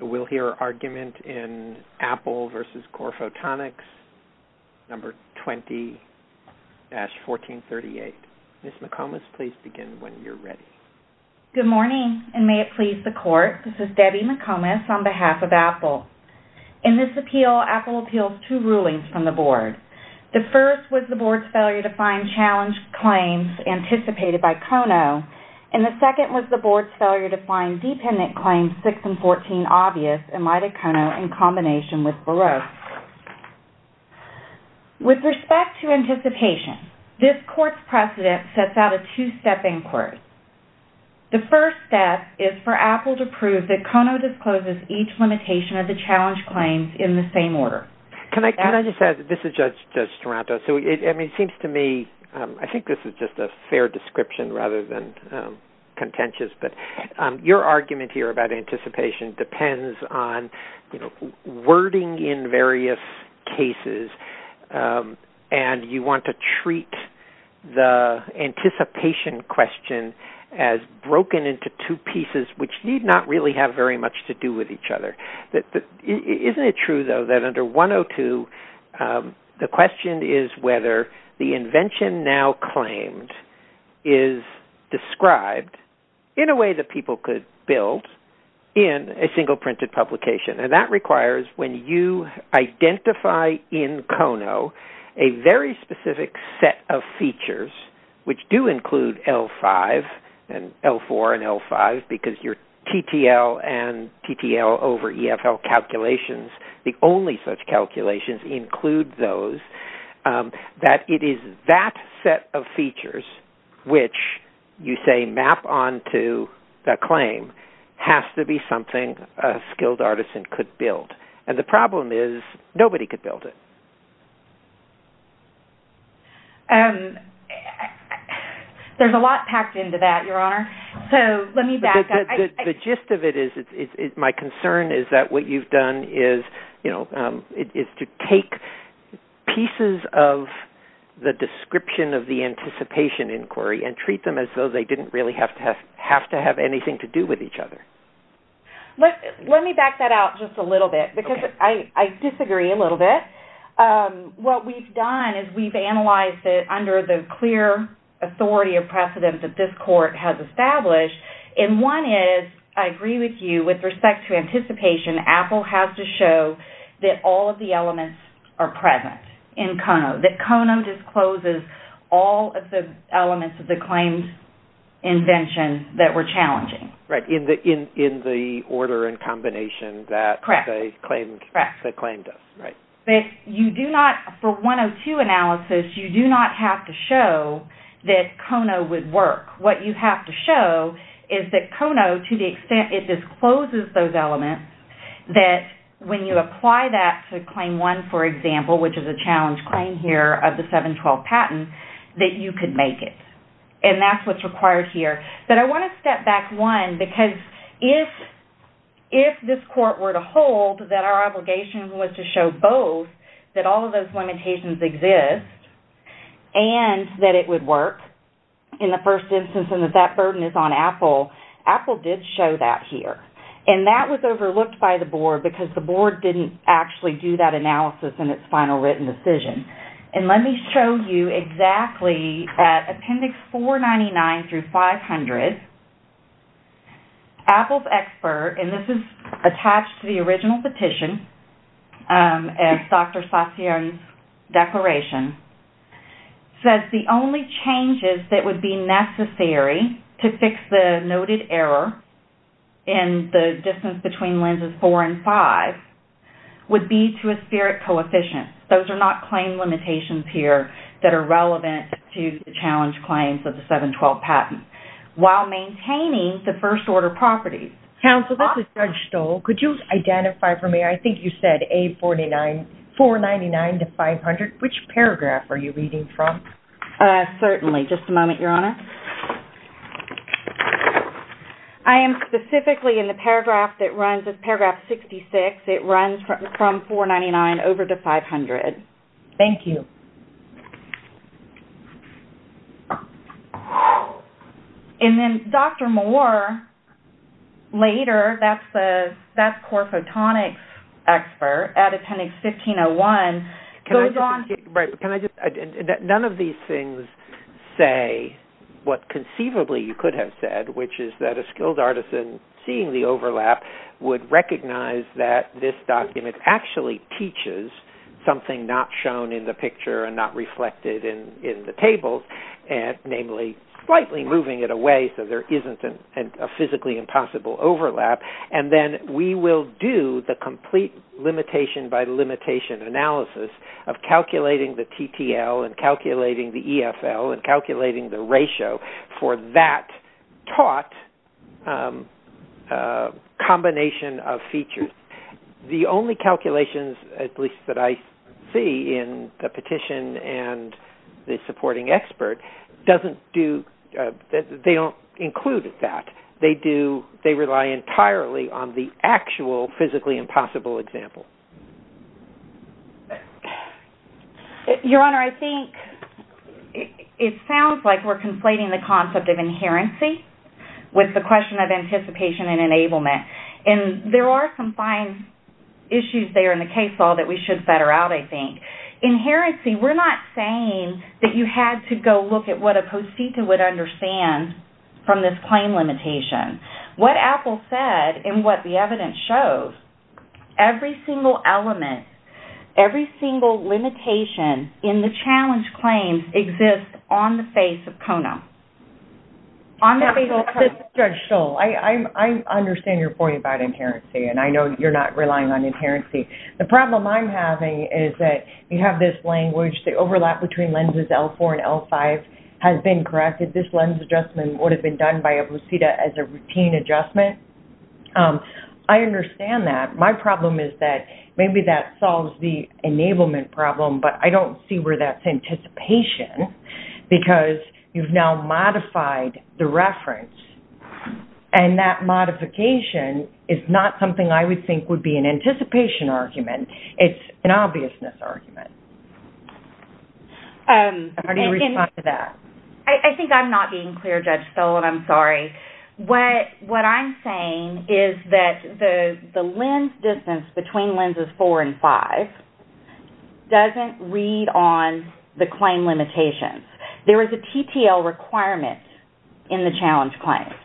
We'll hear argument in Apple v. Corephotonics, No. 20-1438. Ms. McComas, please begin when you're ready. Good morning, and may it please the Court. This is Debbie McComas on behalf of Apple. In this appeal, Apple appeals two rulings from the Board. The first was the Board's failure to find challenge claims anticipated by Kono, and the second was the Board's failure to find dependent claims 6 and 14 obvious in light of Kono in combination with Baruch. With respect to anticipation, this Court's precedent sets out a two-step inquest. The first step is for Apple to prove that Kono discloses each limitation of the challenge claims in the same order. Can I just add, this is Judge Toronto. It seems to me, I think this is just a fair description rather than contentious, but your argument here about anticipation depends on wording in various cases, and you want to treat the anticipation question as broken into two pieces which need not really have very much to do with each other. Isn't it true, though, that under 102, the question is whether the invention now claimed is described in a way that people could build in a single printed publication, and that requires when you identify in Kono a very specific set of features, which do include L4 and L5 because your TTL and TTL over EFL calculations, the only such calculations include those, that it is that set of features which you say map onto the claim has to be something a skilled artisan could build, and the problem is nobody could build it. There's a lot packed into that, Your Honor, so let me back up. The gist of it is my concern is that what you've done is to take pieces of the description of the anticipation inquiry and treat them as though they didn't really have to have anything to do with each other. Let me back that out just a little bit because I disagree a little bit. What we've done is we've analyzed it under the clear authority of precedent that this court has established, and one is, I agree with you, with respect to anticipation, Apple has to show that all of the elements are present in Kono, that Kono discloses all of the elements of the claimed invention that were challenging. Right, in the order and combination that they claimed us. For 102 analysis, you do not have to show that Kono would work. What you have to show is that Kono, to the extent it discloses those elements, that when you apply that to Claim 1, for example, which is a challenge claim here of the 712 patent, that you could make it, and that's what's required here. But I want to step back one because if this court were to hold that our obligation was to show both, that all of those limitations exist, and that it would work in the first instance, and that that burden is on Apple, Apple did show that here. And that was overlooked by the board because the board didn't actually do that analysis in its final written decision. And let me show you exactly, at Appendix 499 through 500, Apple's expert, and this is attached to the original petition, as Dr. Satien's declaration, says the only changes that would be necessary to fix the noted error in the distance between lenses 4 and 5 would be to a spirit coefficient. Those are not claim limitations here that are relevant to the challenge claims of the 712 patent, while maintaining the first order properties. Counsel, this is Judge Stoll. Could you identify for me, I think you said A49, 499 to 500. Which paragraph are you reading from? Certainly. Just a moment, Your Honor. I am specifically in the paragraph that runs, it's paragraph 66. It runs from 499 over to 500. Thank you. And then Dr. Moore, later, that's Core Photonics expert at Appendix 1501, goes on to... None of these things say what conceivably you could have said, which is that a skilled artisan, seeing the overlap, would recognize that this document actually teaches something not shown in the picture and not reflected in the table, namely, slightly moving it away so there isn't a physically impossible overlap. And then we will do the complete limitation by limitation analysis of calculating the TTL and calculating the EFL and calculating the ratio for that taught combination of features. The only calculations, at least that I see in the petition and the supporting expert, they don't include that. They rely entirely on the actual physically impossible example. Your Honor, I think it sounds like we're conflating the concept of inherency with the question of anticipation and enablement. And there are some fine issues there in the case law that we should better out, I think. Inherency, we're not saying that you had to go look at what a post-seeker would understand from this claim limitation. What Apple said and what the evidence shows, every single element, every single limitation in the challenge claims exists on the face of Kona. Judge Stoll, I understand your point about inherency and I know you're not relying on inherency. The problem I'm having is that you have this language, the overlap between lenses L4 and L5 has been corrected. This lens adjustment would have been done by a lucida as a routine adjustment. I understand that. My problem is that maybe that solves the enablement problem, but I don't see where that's anticipation because you've now modified the reference. And that modification is not something I would think would be an anticipation argument. It's an obviousness argument. How do you respond to that? I think I'm not being clear, Judge Stoll, and I'm sorry. What I'm saying is that the lens distance between lenses L4 and L5 doesn't read on the claim limitations. There is a TTL requirement in the challenge claims,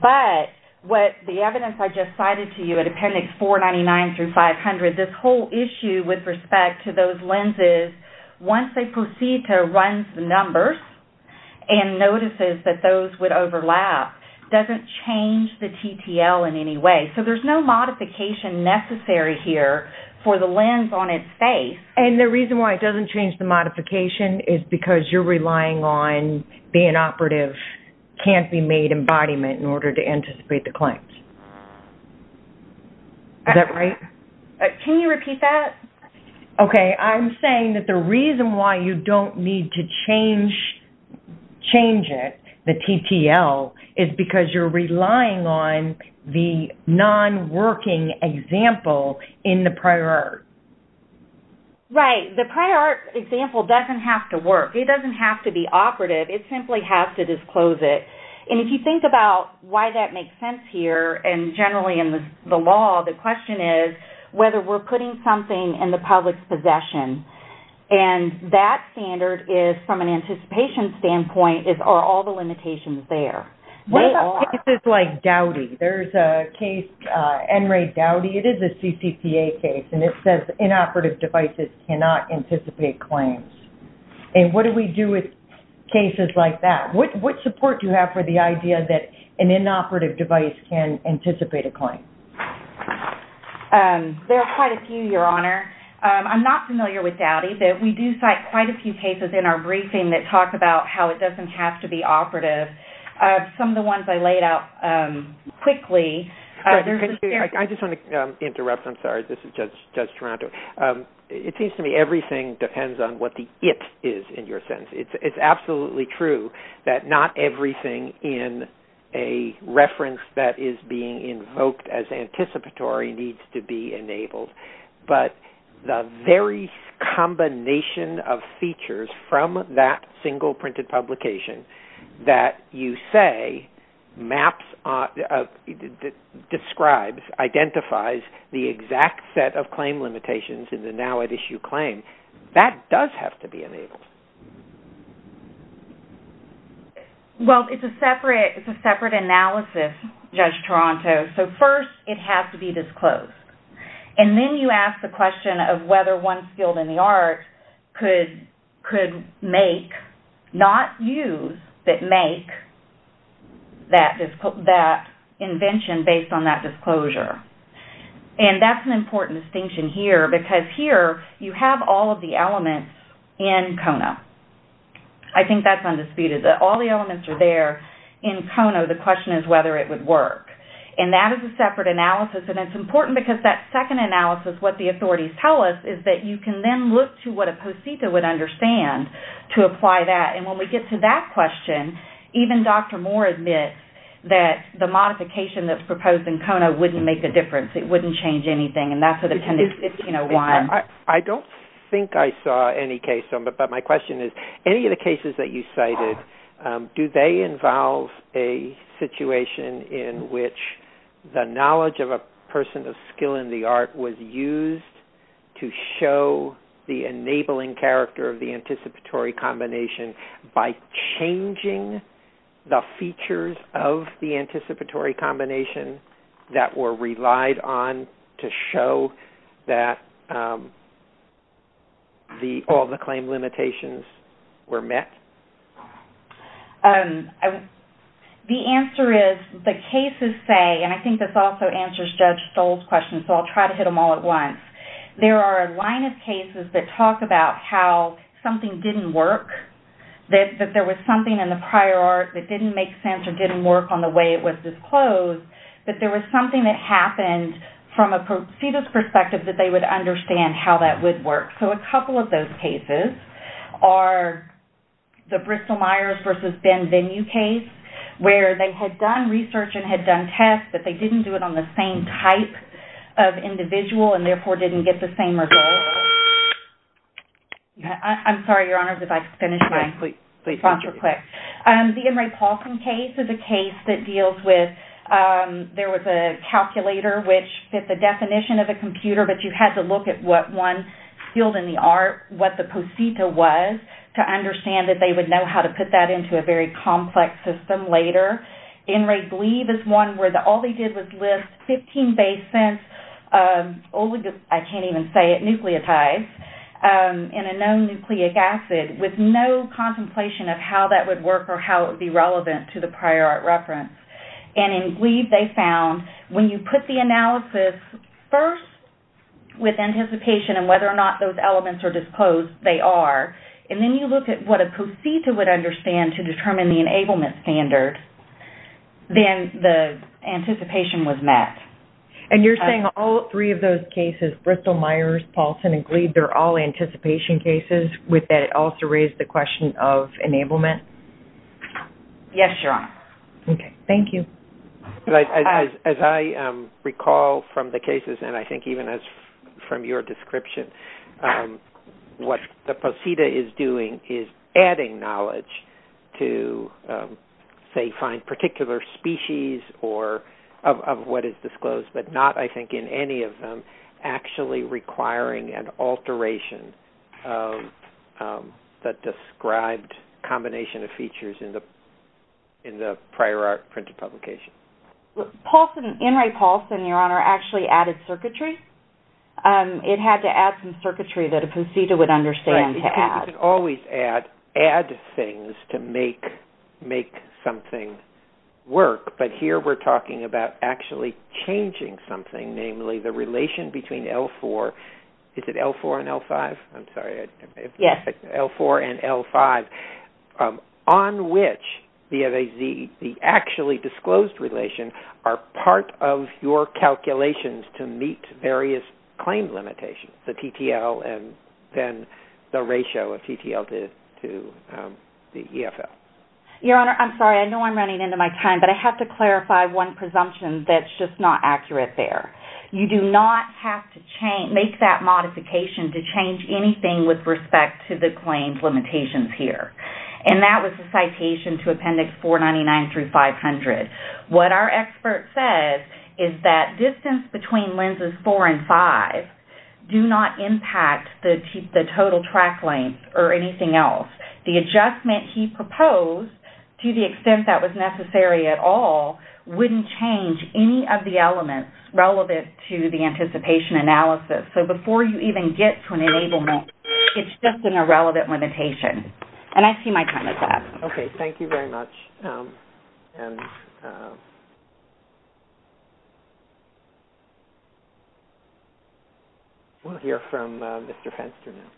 but what the evidence I just cited to you at Appendix 499 through 500, this whole issue with respect to those lenses, once they proceed to run the numbers and notices that those would overlap, doesn't change the TTL in any way. So there's no modification necessary here for the lens on its face. And the reason why it doesn't change the modification is because you're relying on being operative can't-be-made embodiment in order to anticipate the claims. Is that right? Can you repeat that? Okay. I'm saying that the reason why you don't need to change it, the TTL, is because you're relying on the non-working example in the prior art. Right. The prior art example doesn't have to work. It doesn't have to be operative. It simply has to disclose it. And if you think about why that makes sense here, and generally in the law, the question is whether we're putting something in the public's possession. And that standard is, from an anticipation standpoint, are all the limitations there? They are. What about cases like Dowdy? There's a case, NRA Dowdy, it is a CCTA case, and it says inoperative devices cannot anticipate claims. And what do we do with cases like that? What support do you have for the idea that an inoperative device can anticipate a claim? There are quite a few, Your Honor. I'm not familiar with Dowdy, but we do cite quite a few cases in our briefing that talk about how it doesn't have to be operative. Some of the ones I laid out quickly, there's a- I just want to interrupt. I'm sorry. This is Judge Toronto. It seems to me everything depends on what the it is in your sentence. It's absolutely true that not everything in a reference that is being invoked as anticipatory needs to be enabled. But the very combination of features from that single printed publication that you say maps, describes, identifies the exact set of claim limitations in the now at issue claim, that does have to be enabled. Well, it's a separate analysis, Judge Toronto. So first, it has to be disclosed. And then you ask the question of whether one skilled in the arts could make, not use, but make that invention based on that disclosure. And that's an important distinction here, because here you have all of the elements in KONA. I think that's undisputed, that all the elements are there. In KONA, the question is whether it would work. And that is a separate analysis. And it's important because that second analysis, what the authorities tell us, is that you can then look to what a posita would understand to apply that. And when we get to that question, even Dr. Moore admits that the modification that's proposed in KONA wouldn't make a difference. It wouldn't change anything. I don't think I saw any case. But my question is, any of the cases that you cited, do they involve a situation in which the knowledge of a person of skill in the art was used to show the enabling character of the anticipatory combination by changing the features of the anticipatory combination that were relied on to show that all the claim limitations were met? The answer is the cases say, and I think this also answers Judge Stoll's question, so I'll try to hit them all at once. There are a line of cases that talk about how something didn't work, that there was something in the prior art that didn't make sense or didn't work on the way it was disclosed, that there was something that happened from a posita's perspective that they would understand how that would work. So a couple of those cases are the Bristol-Myers versus Ben Venue case, where they had done research and had done tests, but they didn't do it on the same type of individual and therefore didn't get the same results. I'm sorry, Your Honor, if I could finish my answer quick. The N. Ray Paulson case is a case that deals with, there was a calculator which fit the definition of a computer, but you had to look at what one field in the art, what the posita was, to understand that they would know how to put that into a very complex system later. N. Ray Gleave is one where all they did was list 15 basins, I can't even say it, nucleotides, in a known nucleic acid, with no contemplation of how that would work or how it would be relevant to the prior art reference. And in Gleave they found when you put the analysis first with anticipation and whether or not those elements are disclosed, they are, and then you look at what a posita would understand to determine the enablement standard, then the anticipation was met. And you're saying all three of those cases, Bristol-Myers, Paulson, and Gleave, they're all anticipation cases, with that it also raised the question of enablement? Yes, Your Honor. Okay. Thank you. As I recall from the cases, and I think even from your description, what the posita is doing is adding knowledge to, say, find particular species of what is disclosed, but not, I think, in any of them, actually requiring an alteration that described a combination of features in the prior art printed publication. In Ray Paulson, Your Honor, actually added circuitry. It had to add some circuitry that a posita would understand to add. Right, because you can always add things to make something work, but here we're talking about actually changing something, namely the relation between L4, is it L4 and L5? I'm sorry. Yes. L4 and L5, on which the actually disclosed relation are part of your calculations to meet various claim limitations, the TTL and then the ratio of TTL to the EFL. Your Honor, I'm sorry, I know I'm running into my time, but I have to clarify one presumption that's just not accurate there. You do not have to make that modification to change anything with respect to the claims limitations here, and that was the citation to Appendix 499 through 500. What our expert says is that distance between lenses 4 and 5 do not impact the total track length or anything else. The adjustment he proposed, to the extent that was necessary at all, wouldn't change any of the elements relevant to the anticipation analysis. So before you even get to an enablement, it's just an irrelevant limitation. And I see my time is up. Okay, thank you very much. And we'll hear from Mr. Fenster now.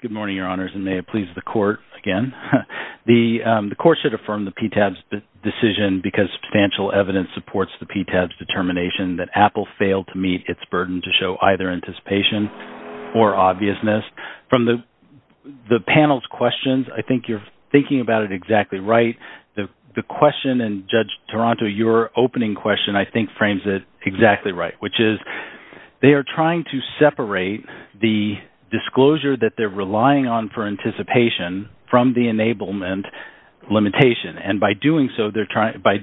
Good morning, Your Honors, and may it please the Court again. The Court should affirm the PTABS decision because substantial evidence supports the PTABS determination that Apple failed to meet its burden to show either anticipation or obviousness. From the panel's questions, I think you're thinking about it exactly right. The question in Judge Toronto, your opening question, I think frames it exactly right, which is they are trying to separate the disclosure that they're relying on for anticipation from the enablement limitation. And by doing so, by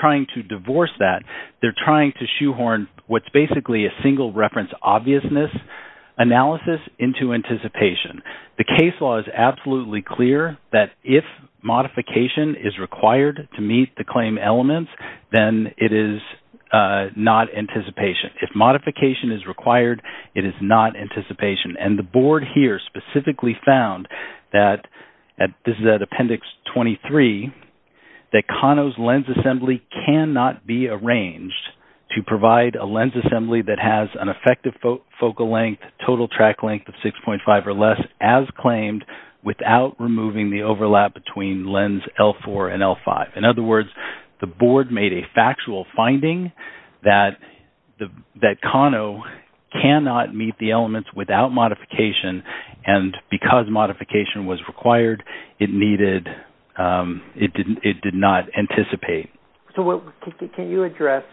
trying to divorce that, they're trying to shoehorn what's basically a single reference obviousness analysis into anticipation. The case law is absolutely clear that if modification is required to meet the claim elements, then it is not anticipation. If modification is required, it is not anticipation. And the Board here specifically found that, this is at Appendix 23, that Kano's lens assembly cannot be arranged to provide a lens assembly that has an effective focal length, total track length of 6.5 or less, as claimed, without removing the overlap between lens L4 and L5. In other words, the Board made a factual finding that Kano cannot meet the elements without modification, and because modification was required, it did not anticipate. Can you address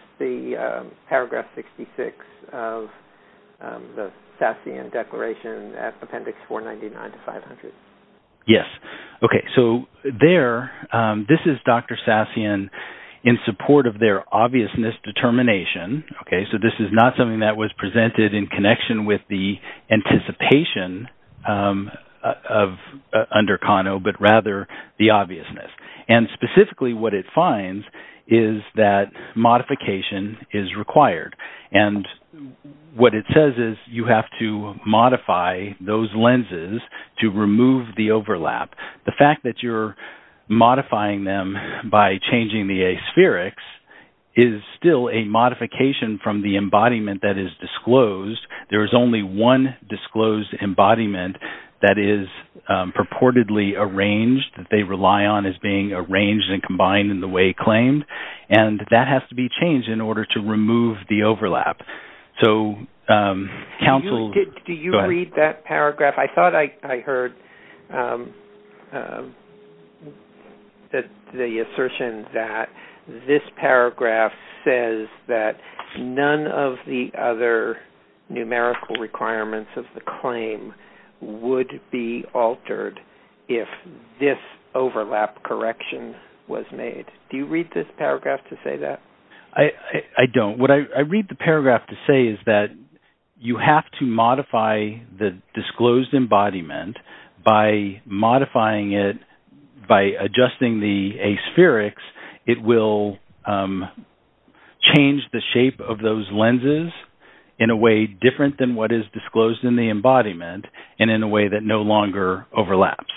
Paragraph 66 of the Sassian Declaration at Appendix 499-500? Yes. Okay, so there, this is Dr. Sassian in support of their obviousness determination. So this is not something that was presented in connection with the anticipation under Kano, but rather the obviousness. And specifically what it finds is that modification is required. And what it says is you have to modify those lenses to remove the overlap. The fact that you're modifying them by changing the aspherics is still a modification from the embodiment that is disclosed. There is only one disclosed embodiment that is purportedly arranged that they rely on as being arranged and combined in the way claimed, and that has to be changed in order to remove the overlap. So counsel- Do you read that paragraph? I thought I heard the assertion that this paragraph says that none of the other numerical requirements of the claim would be altered if this overlap correction was made. Do you read this paragraph to say that? I don't. What I read the paragraph to say is that you have to modify the disclosed embodiment. By modifying it, by adjusting the aspherics, it will change the shape of those lenses in a way different than what is disclosed in the embodiment and in a way that no longer overlaps.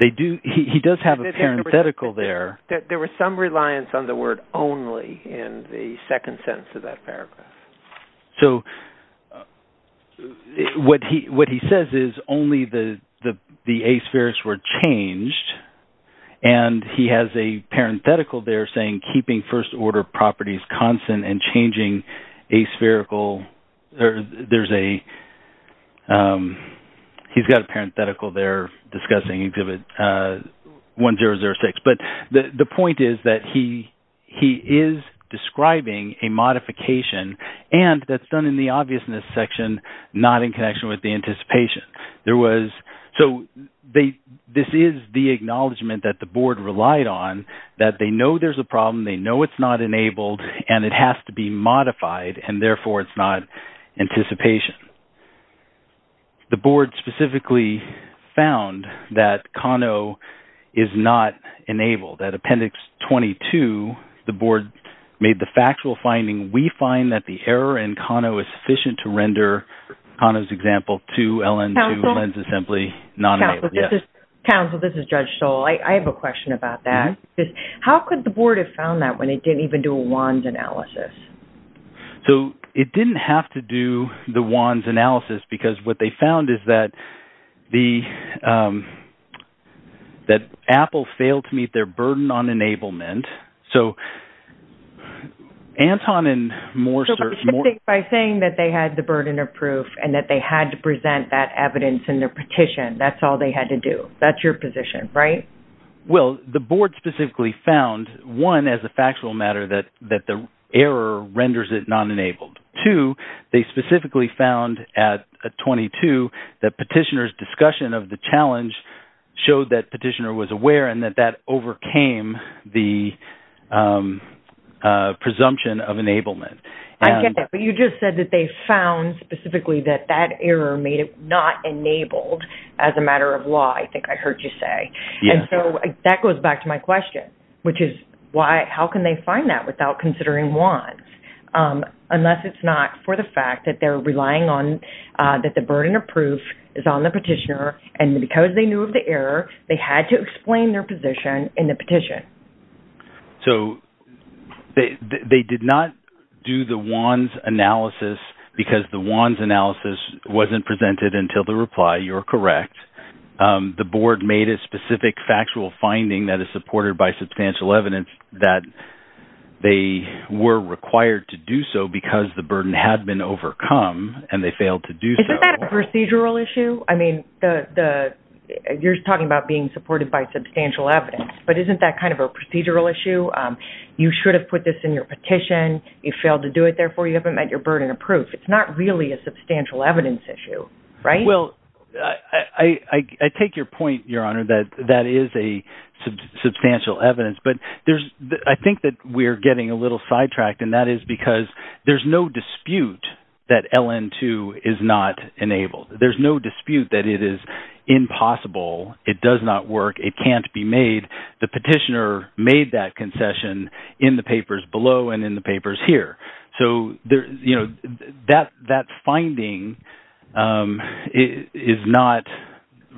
He does have a parenthetical there. There was some reliance on the word only in the second sentence of that paragraph. So what he says is only the aspherics were changed, and he has a parenthetical there saying, keeping first-order properties constant and changing aspherical. There's a-he's got a parenthetical there discussing exhibit 1006. But the point is that he is describing a modification, and that's done in the obviousness section, not in connection with the anticipation. So this is the acknowledgement that the board relied on, that they know there's a problem, they know it's not enabled, and it has to be modified, and therefore it's not anticipation. The board specifically found that Kano is not enabled. At Appendix 22, the board made the factual finding, we find that the error in Kano is sufficient to render Kano's example to LN2 lens assembly not enabled. Counsel, this is Judge Stoll. I have a question about that. How could the board have found that when it didn't even do a WANDS analysis? So it didn't have to do the WANDS analysis, because what they found is that Apple failed to meet their burden on enablement. So Anton and Morse are- So by saying that they had the burden of proof and that they had to present that evidence in their petition, that's all they had to do. That's your position, right? Well, the board specifically found, one, as a factual matter, that the error renders it non-enabled. Two, they specifically found at 22 that petitioner's discussion of the challenge showed that petitioner was aware and that that overcame the presumption of enablement. I get that. But you just said that they found specifically that that error made it not enabled as a matter of law, I think I heard you say. Yes. And so that goes back to my question, which is how can they find that without considering WANDS, unless it's not for the fact that they're relying on- that the burden of proof is on the petitioner and because they knew of the error, they had to explain their position in the petition. So they did not do the WANDS analysis because the WANDS analysis wasn't presented until the reply, you're correct. The board made a specific factual finding that is supported by substantial evidence that they were required to do so because the burden had been overcome and they failed to do so. Isn't that a procedural issue? I mean, you're talking about being supported by substantial evidence, but isn't that kind of a procedural issue? You should have put this in your petition. You failed to do it, therefore you haven't met your burden of proof. It's not really a substantial evidence issue, right? Well, I take your point, Your Honor, that that is a substantial evidence, but I think that we're getting a little sidetracked and that is because there's no dispute that LN2 is not enabled. There's no dispute that it is impossible. It does not work. It can't be made. The petitioner made that concession in the papers below and in the papers here. So, you know, that finding is not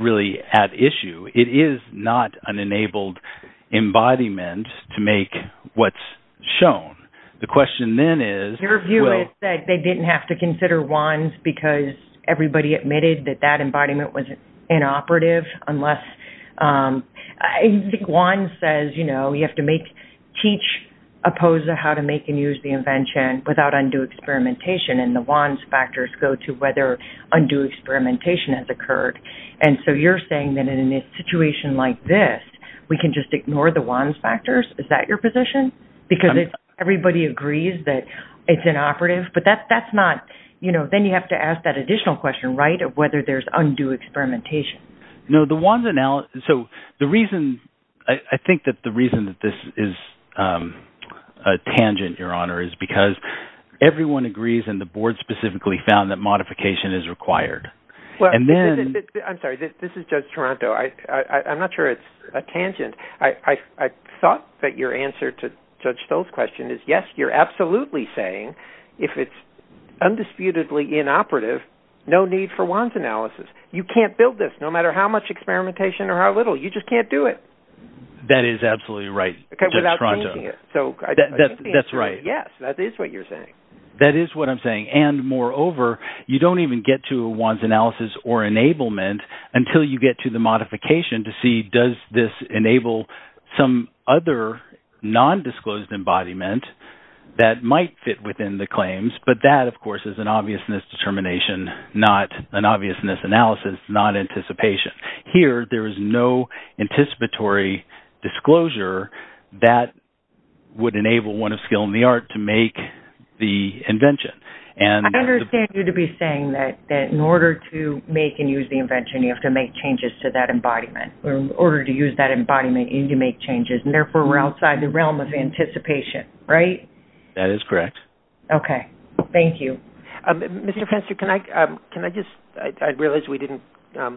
really at issue. It is not an enabled embodiment to make what's shown. The question then is... Everybody admitted that that embodiment was inoperative unless... I think Juan says, you know, you have to teach a POSA how to make and use the invention without undue experimentation, and the Juan's factors go to whether undue experimentation has occurred. And so you're saying that in a situation like this, we can just ignore the Juan's factors? Is that your position? Because everybody agrees that it's inoperative, but that's not... Then you have to ask that additional question, right, of whether there's undue experimentation. No, the Juan's analysis... So the reason... I think that the reason that this is a tangent, Your Honor, is because everyone agrees, and the board specifically found that modification is required. And then... I'm sorry. This is Judge Toronto. I'm not sure it's a tangent. I thought that your answer to Judge Stoll's question is, yes, you're absolutely saying if it's undisputedly inoperative, no need for Juan's analysis. You can't build this, no matter how much experimentation or how little. You just can't do it. That is absolutely right, Judge Toronto. Without changing it. That's right. Yes, that is what you're saying. That is what I'm saying. And, moreover, you don't even get to a Juan's analysis or enablement until you get to the modification to see, does this enable some other nondisclosed embodiment that might fit within the claims? But that, of course, is an obviousness determination, not an obviousness analysis, not anticipation. Here, there is no anticipatory disclosure that would enable one of skill in the art to make the invention. I understand you to be saying that in order to make and use the invention, you have to make changes to that embodiment. In order to use that embodiment, you need to make changes. Therefore, we're outside the realm of anticipation, right? That is correct. Okay. Thank you. Mr. Fenster, can I just-I realize we didn't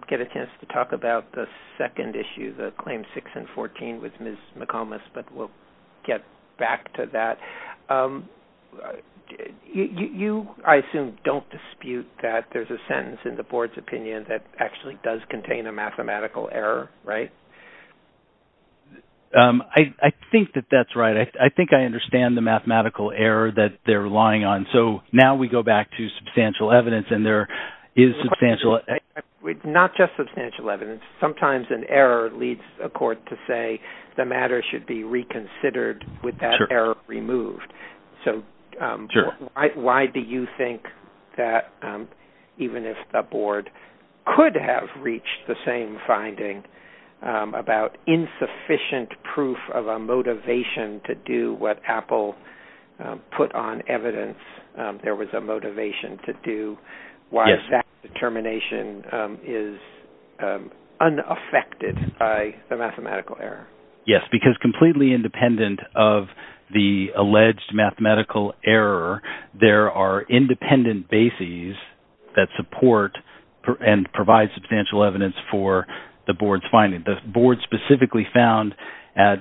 get a chance to talk about the second issue, the Claims 6 and 14 with Ms. McComas, but we'll get back to that. You, I assume, don't dispute that there's a sentence in the Board's opinion that actually does contain a mathematical error, right? I think that that's right. I think I understand the mathematical error that they're relying on. So now we go back to substantial evidence, and there is substantial- Not just substantial evidence. Sometimes an error leads a court to say the matter should be reconsidered with that error removed. So why do you think that even if a Board could have reached the same finding about insufficient proof of a motivation to do what Apple put on evidence there was a motivation to do, why is that determination is unaffected by the mathematical error? Yes, because completely independent of the alleged mathematical error, there are independent bases that support and provide substantial evidence for the Board's finding. The Board specifically found at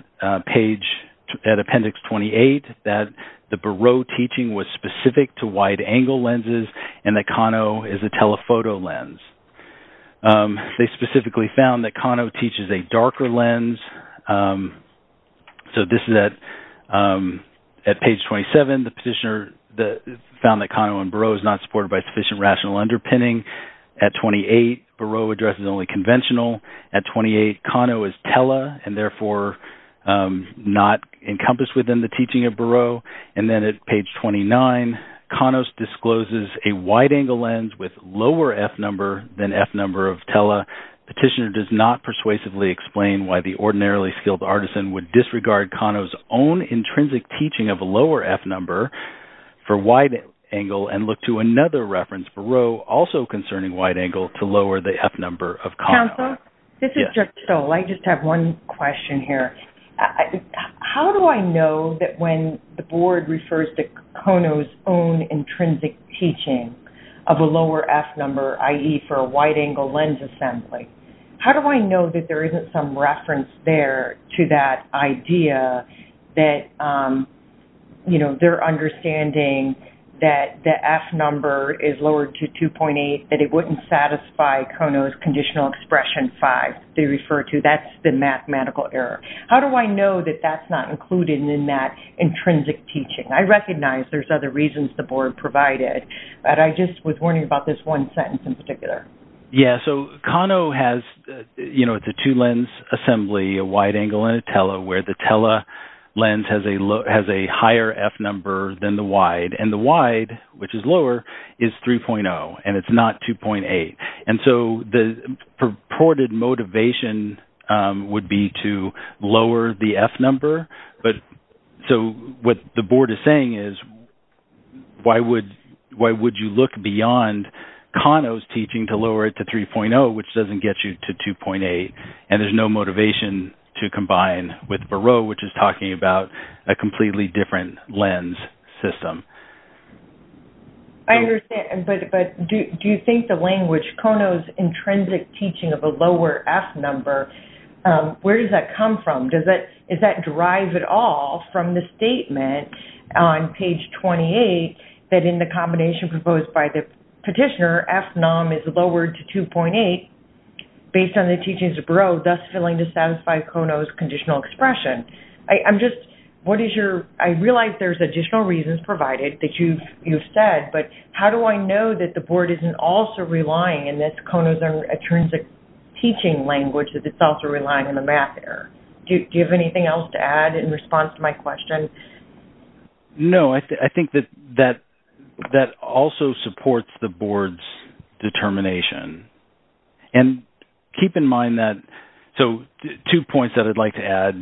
appendix 28 that the Barreau teaching was specific to wide-angle lenses and that Kano is a telephoto lens. They specifically found that Kano teaches a darker lens. So this is at page 27. The petitioner found that Kano and Barreau is not supported by sufficient rational underpinning. At 28, Barreau addresses only conventional. At 28, Kano is tele, and therefore not encompassed within the teaching of Barreau. And then at page 29, Kano discloses a wide-angle lens with lower f-number than f-number of tele. Petitioner does not persuasively explain why the ordinarily skilled artisan would disregard Kano's own intrinsic teaching of a lower f-number for wide-angle and look to another reference Barreau also concerning wide-angle to lower the f-number of Kano. Counsel, this is Jeff Stoll. I just have one question here. How do I know that when the Board refers to Kano's own intrinsic teaching of a lower f-number, i.e., for a wide-angle lens assembly, how do I know that there isn't some reference there to that idea that their understanding that the f-number is lowered to 2.8, that it wouldn't satisfy Kano's conditional expression 5, they refer to? That's the mathematical error. How do I know that that's not included in that intrinsic teaching? I recognize there's other reasons the Board provided, but I just was wondering about this one sentence in particular. Yes, so Kano has, you know, it's a two-lens assembly, a wide-angle and a tele, where the tele lens has a higher f-number than the wide, and the wide, which is lower, is 3.0, and it's not 2.8. And so the purported motivation would be to lower the f-number, but so what the Board is saying is, why would you look beyond Kano's teaching to lower it to 3.0, which doesn't get you to 2.8? And there's no motivation to combine with Barreau, which is talking about a completely different lens system. I understand, but do you think the language, Kano's intrinsic teaching of a lower f-number, where does that come from? Does that drive at all from the statement on page 28, that in the combination proposed by the petitioner, f-num is lowered to 2.8 based on the teachings of Barreau, thus failing to satisfy Kano's conditional expression? I'm just, what is your, I realize there's additional reasons provided that you've said, but how do I know that the Board isn't also relying on this Kano's intrinsic teaching language that it's also relying on the math error? Do you have anything else to add in response to my question? No, I think that that also supports the Board's determination. And keep in mind that, so two points that I'd like to add.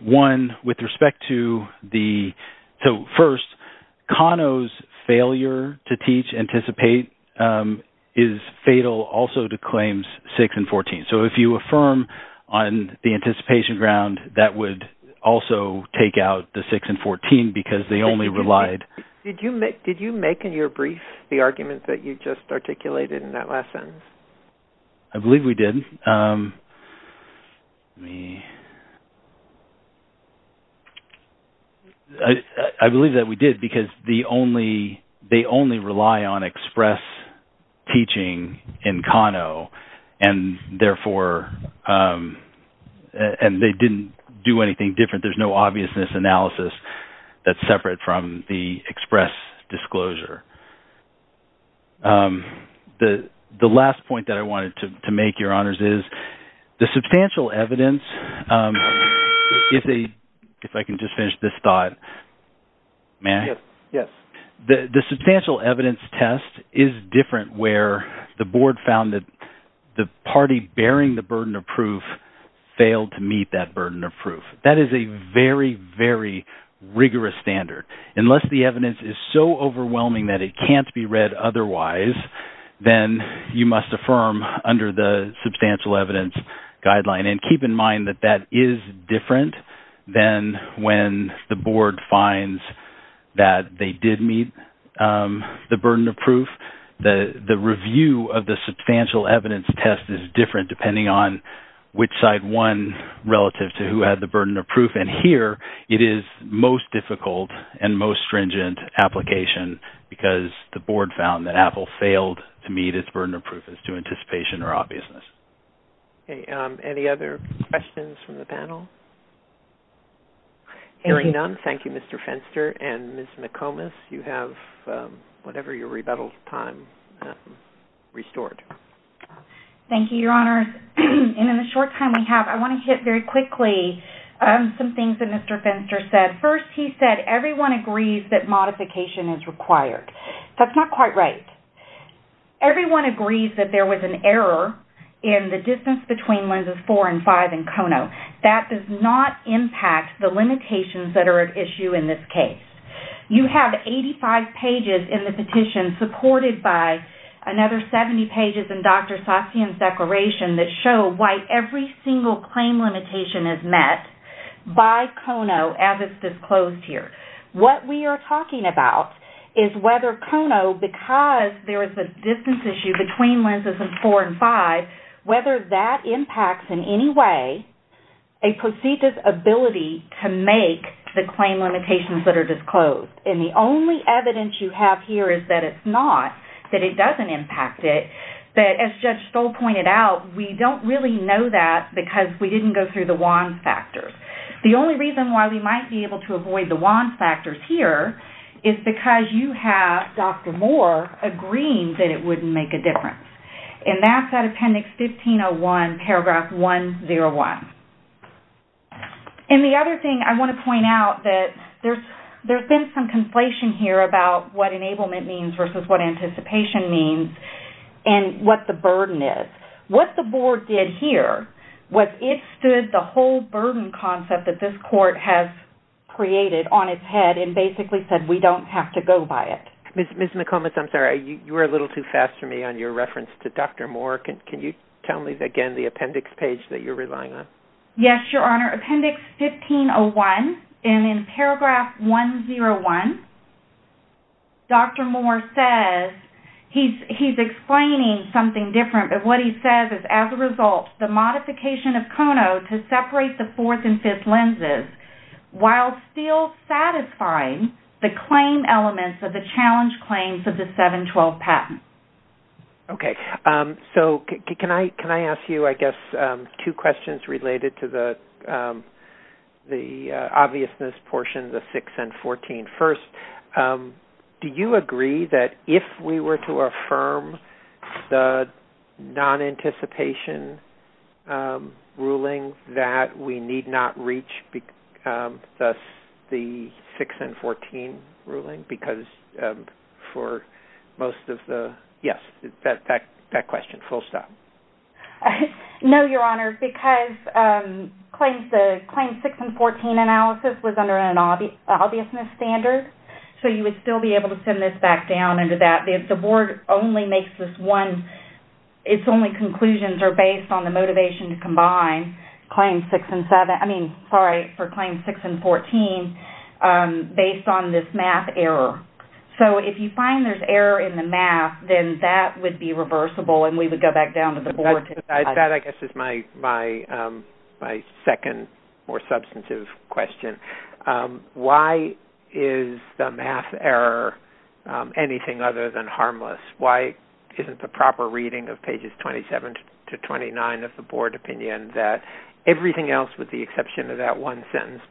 One, with respect to the, so first, Kano's failure to teach, anticipate, is fatal also to claims 6 and 14. So if you affirm on the anticipation ground, that would also take out the 6 and 14, because they only relied. Did you make in your brief the argument that you just articulated in that last sentence? I believe we did. I believe that we did, because they only rely on express teaching in Kano, and therefore, and they didn't do anything different. There's no obviousness analysis that's separate from the express disclosure. The last point that I wanted to make, Your Honors, is the substantial evidence, if I can just finish this thought. May I? Yes. The substantial evidence test is different where the Board found that the party bearing the burden of proof failed to meet that burden of proof. That is a very, very rigorous standard. Unless the evidence is so overwhelming that it can't be read otherwise, then you must affirm under the substantial evidence guideline. And keep in mind that that is different than when the Board finds that they did meet the burden of proof. The review of the substantial evidence test is different, depending on which side won relative to who had the burden of proof. And here, it is most difficult and most stringent application, because the Board found that Apple failed to meet its burden of proof as to anticipation or obviousness. Any other questions from the panel? Hearing none, thank you, Mr. Fenster. And Ms. McComas, you have whatever your rebuttal time restored. Thank you, Your Honors. In the short time we have, I want to hit very quickly some things that Mr. Fenster said. First, he said everyone agrees that modification is required. That's not quite right. Everyone agrees that there was an error in the distance between lenses 4 and 5 in Kono. That does not impact the limitations that are at issue in this case. You have 85 pages in the petition, supported by another 70 pages in Dr. Sassion's declaration, that show why every single claim limitation is met by Kono, as is disclosed here. What we are talking about is whether Kono, because there is a distance issue between lenses 4 and 5, whether that impacts in any way a proceeder's ability to make the claim limitations that are disclosed. And the only evidence you have here is that it's not, that it doesn't impact it. But as Judge Stoll pointed out, we don't really know that because we didn't go through the WAN factors. The only reason why we might be able to avoid the WAN factors here is because you have Dr. Moore agreeing that it wouldn't make a difference. And that's at Appendix 1501, Paragraph 101. And the other thing I want to point out that there's been some conflation here about what enablement means versus what anticipation means and what the burden is. What the board did here was it stood the whole burden concept that this court has created on its head and basically said we don't have to go by it. Ms. McComas, I'm sorry, you were a little too fast for me on your reference to Dr. Moore. Can you tell me again the appendix page that you're relying on? Yes, Your Honor. Appendix 1501, and in Paragraph 101, Dr. Moore says he's explaining something different and what he says is, as a result, the modification of CONO to separate the fourth and fifth lenses while still satisfying the claim elements of the challenge claims of the 712 patent. Okay. So can I ask you, I guess, two questions related to the obviousness portion, the 6 and 14? First, do you agree that if we were to affirm the non-anticipation ruling that we need not reach the 6 and 14 ruling? Because for most of the, yes, that question, full stop. No, Your Honor, because Claim 6 and 14 analysis was under an obviousness standard, so you would still be able to send this back down under that. The Board only makes this one, its only conclusions are based on the motivation to combine Claim 6 and 7, I mean, sorry, for Claim 6 and 14, based on this math error. So if you find there's error in the math, then that would be reversible and we would go back down to the Board. That, I guess, is my second more substantive question. Why is the math error anything other than harmless? Why isn't the proper reading of pages 27 to 29 of the Board opinion that everything else, with the exception of that one sentence,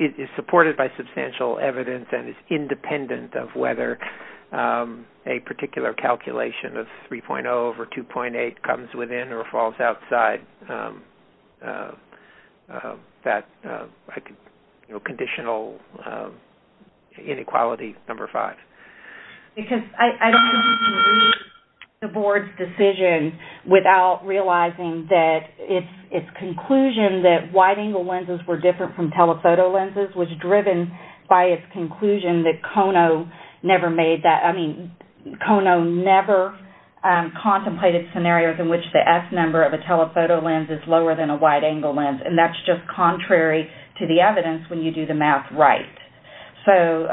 is supported by substantial evidence and is independent of whether a particular calculation of 3.0 over 2.8 comes within or falls outside that conditional inequality number five? Because I don't think you can read the Board's decision without realizing that its conclusion that wide-angle lenses were different from telephoto lenses was driven by its conclusion that Kono never made that, I mean, Kono never contemplated scenarios in which the S number of a telephoto lens is lower than a wide-angle lens, and that's just contrary to the evidence when you do the math right. So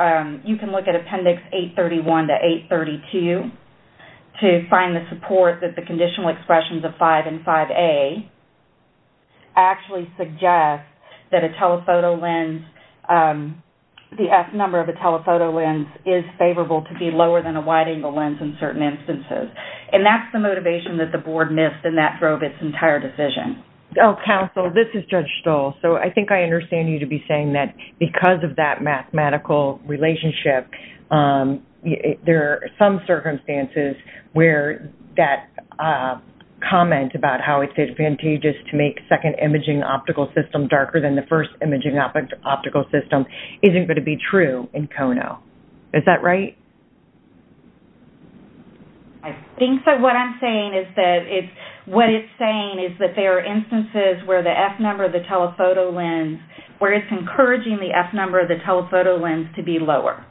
you can look at Appendix 831 to 832 to find the support that the conditional expressions of 5 and 5A actually suggest that a telephoto lens, the S number of a telephoto lens, is favorable to be lower than a wide-angle lens in certain instances. And that's the motivation that the Board missed and that drove its entire decision. Oh, Counsel, this is Judge Stoll. So I think I understand you to be saying that because of that mathematical relationship, there are some circumstances where that comment about how it's advantageous to make second imaging optical system darker than the first imaging optical system isn't going to be true in Kono. Is that right? I think that what I'm saying is that what it's saying is that there are instances where the S number of the telephoto lens, where it's encouraging the S number of the telephoto lens to be lower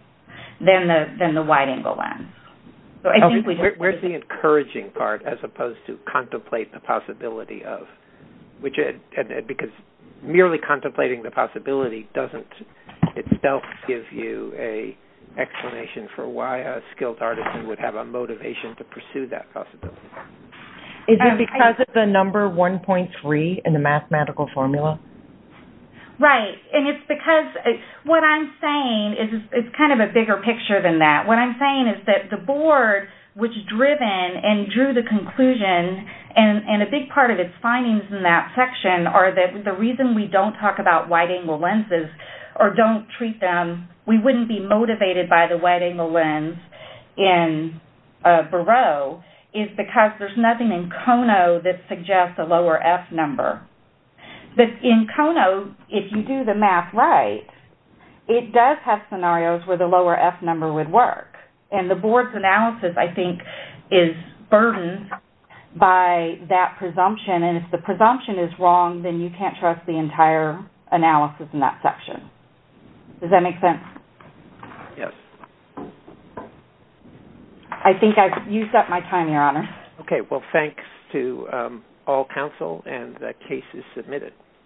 than the wide-angle lens. Where's the encouraging part as opposed to contemplate the possibility of, because merely contemplating the possibility doesn't itself give you an explanation for why a skilled artisan would have a motivation to pursue that possibility. Is it because of the number 1.3 in the mathematical formula? Right. And it's because what I'm saying is kind of a bigger picture than that. What I'm saying is that the Board, which driven and drew the conclusion, and a big part of its findings in that section are that the reason we don't talk about wide-angle lenses or don't treat them, we wouldn't be motivated by the wide-angle lens in Barreau, is because there's nothing in Kono that suggests a lower F number. But in Kono, if you do the math right, it does have scenarios where the lower F number would work. And the Board's analysis, I think, is burdened by that presumption. And if the presumption is wrong, then you can't trust the entire analysis in that section. Does that make sense? Yes. I think I've used up my time, Your Honor. Okay. Well, thanks to all counsel, and the case is submitted.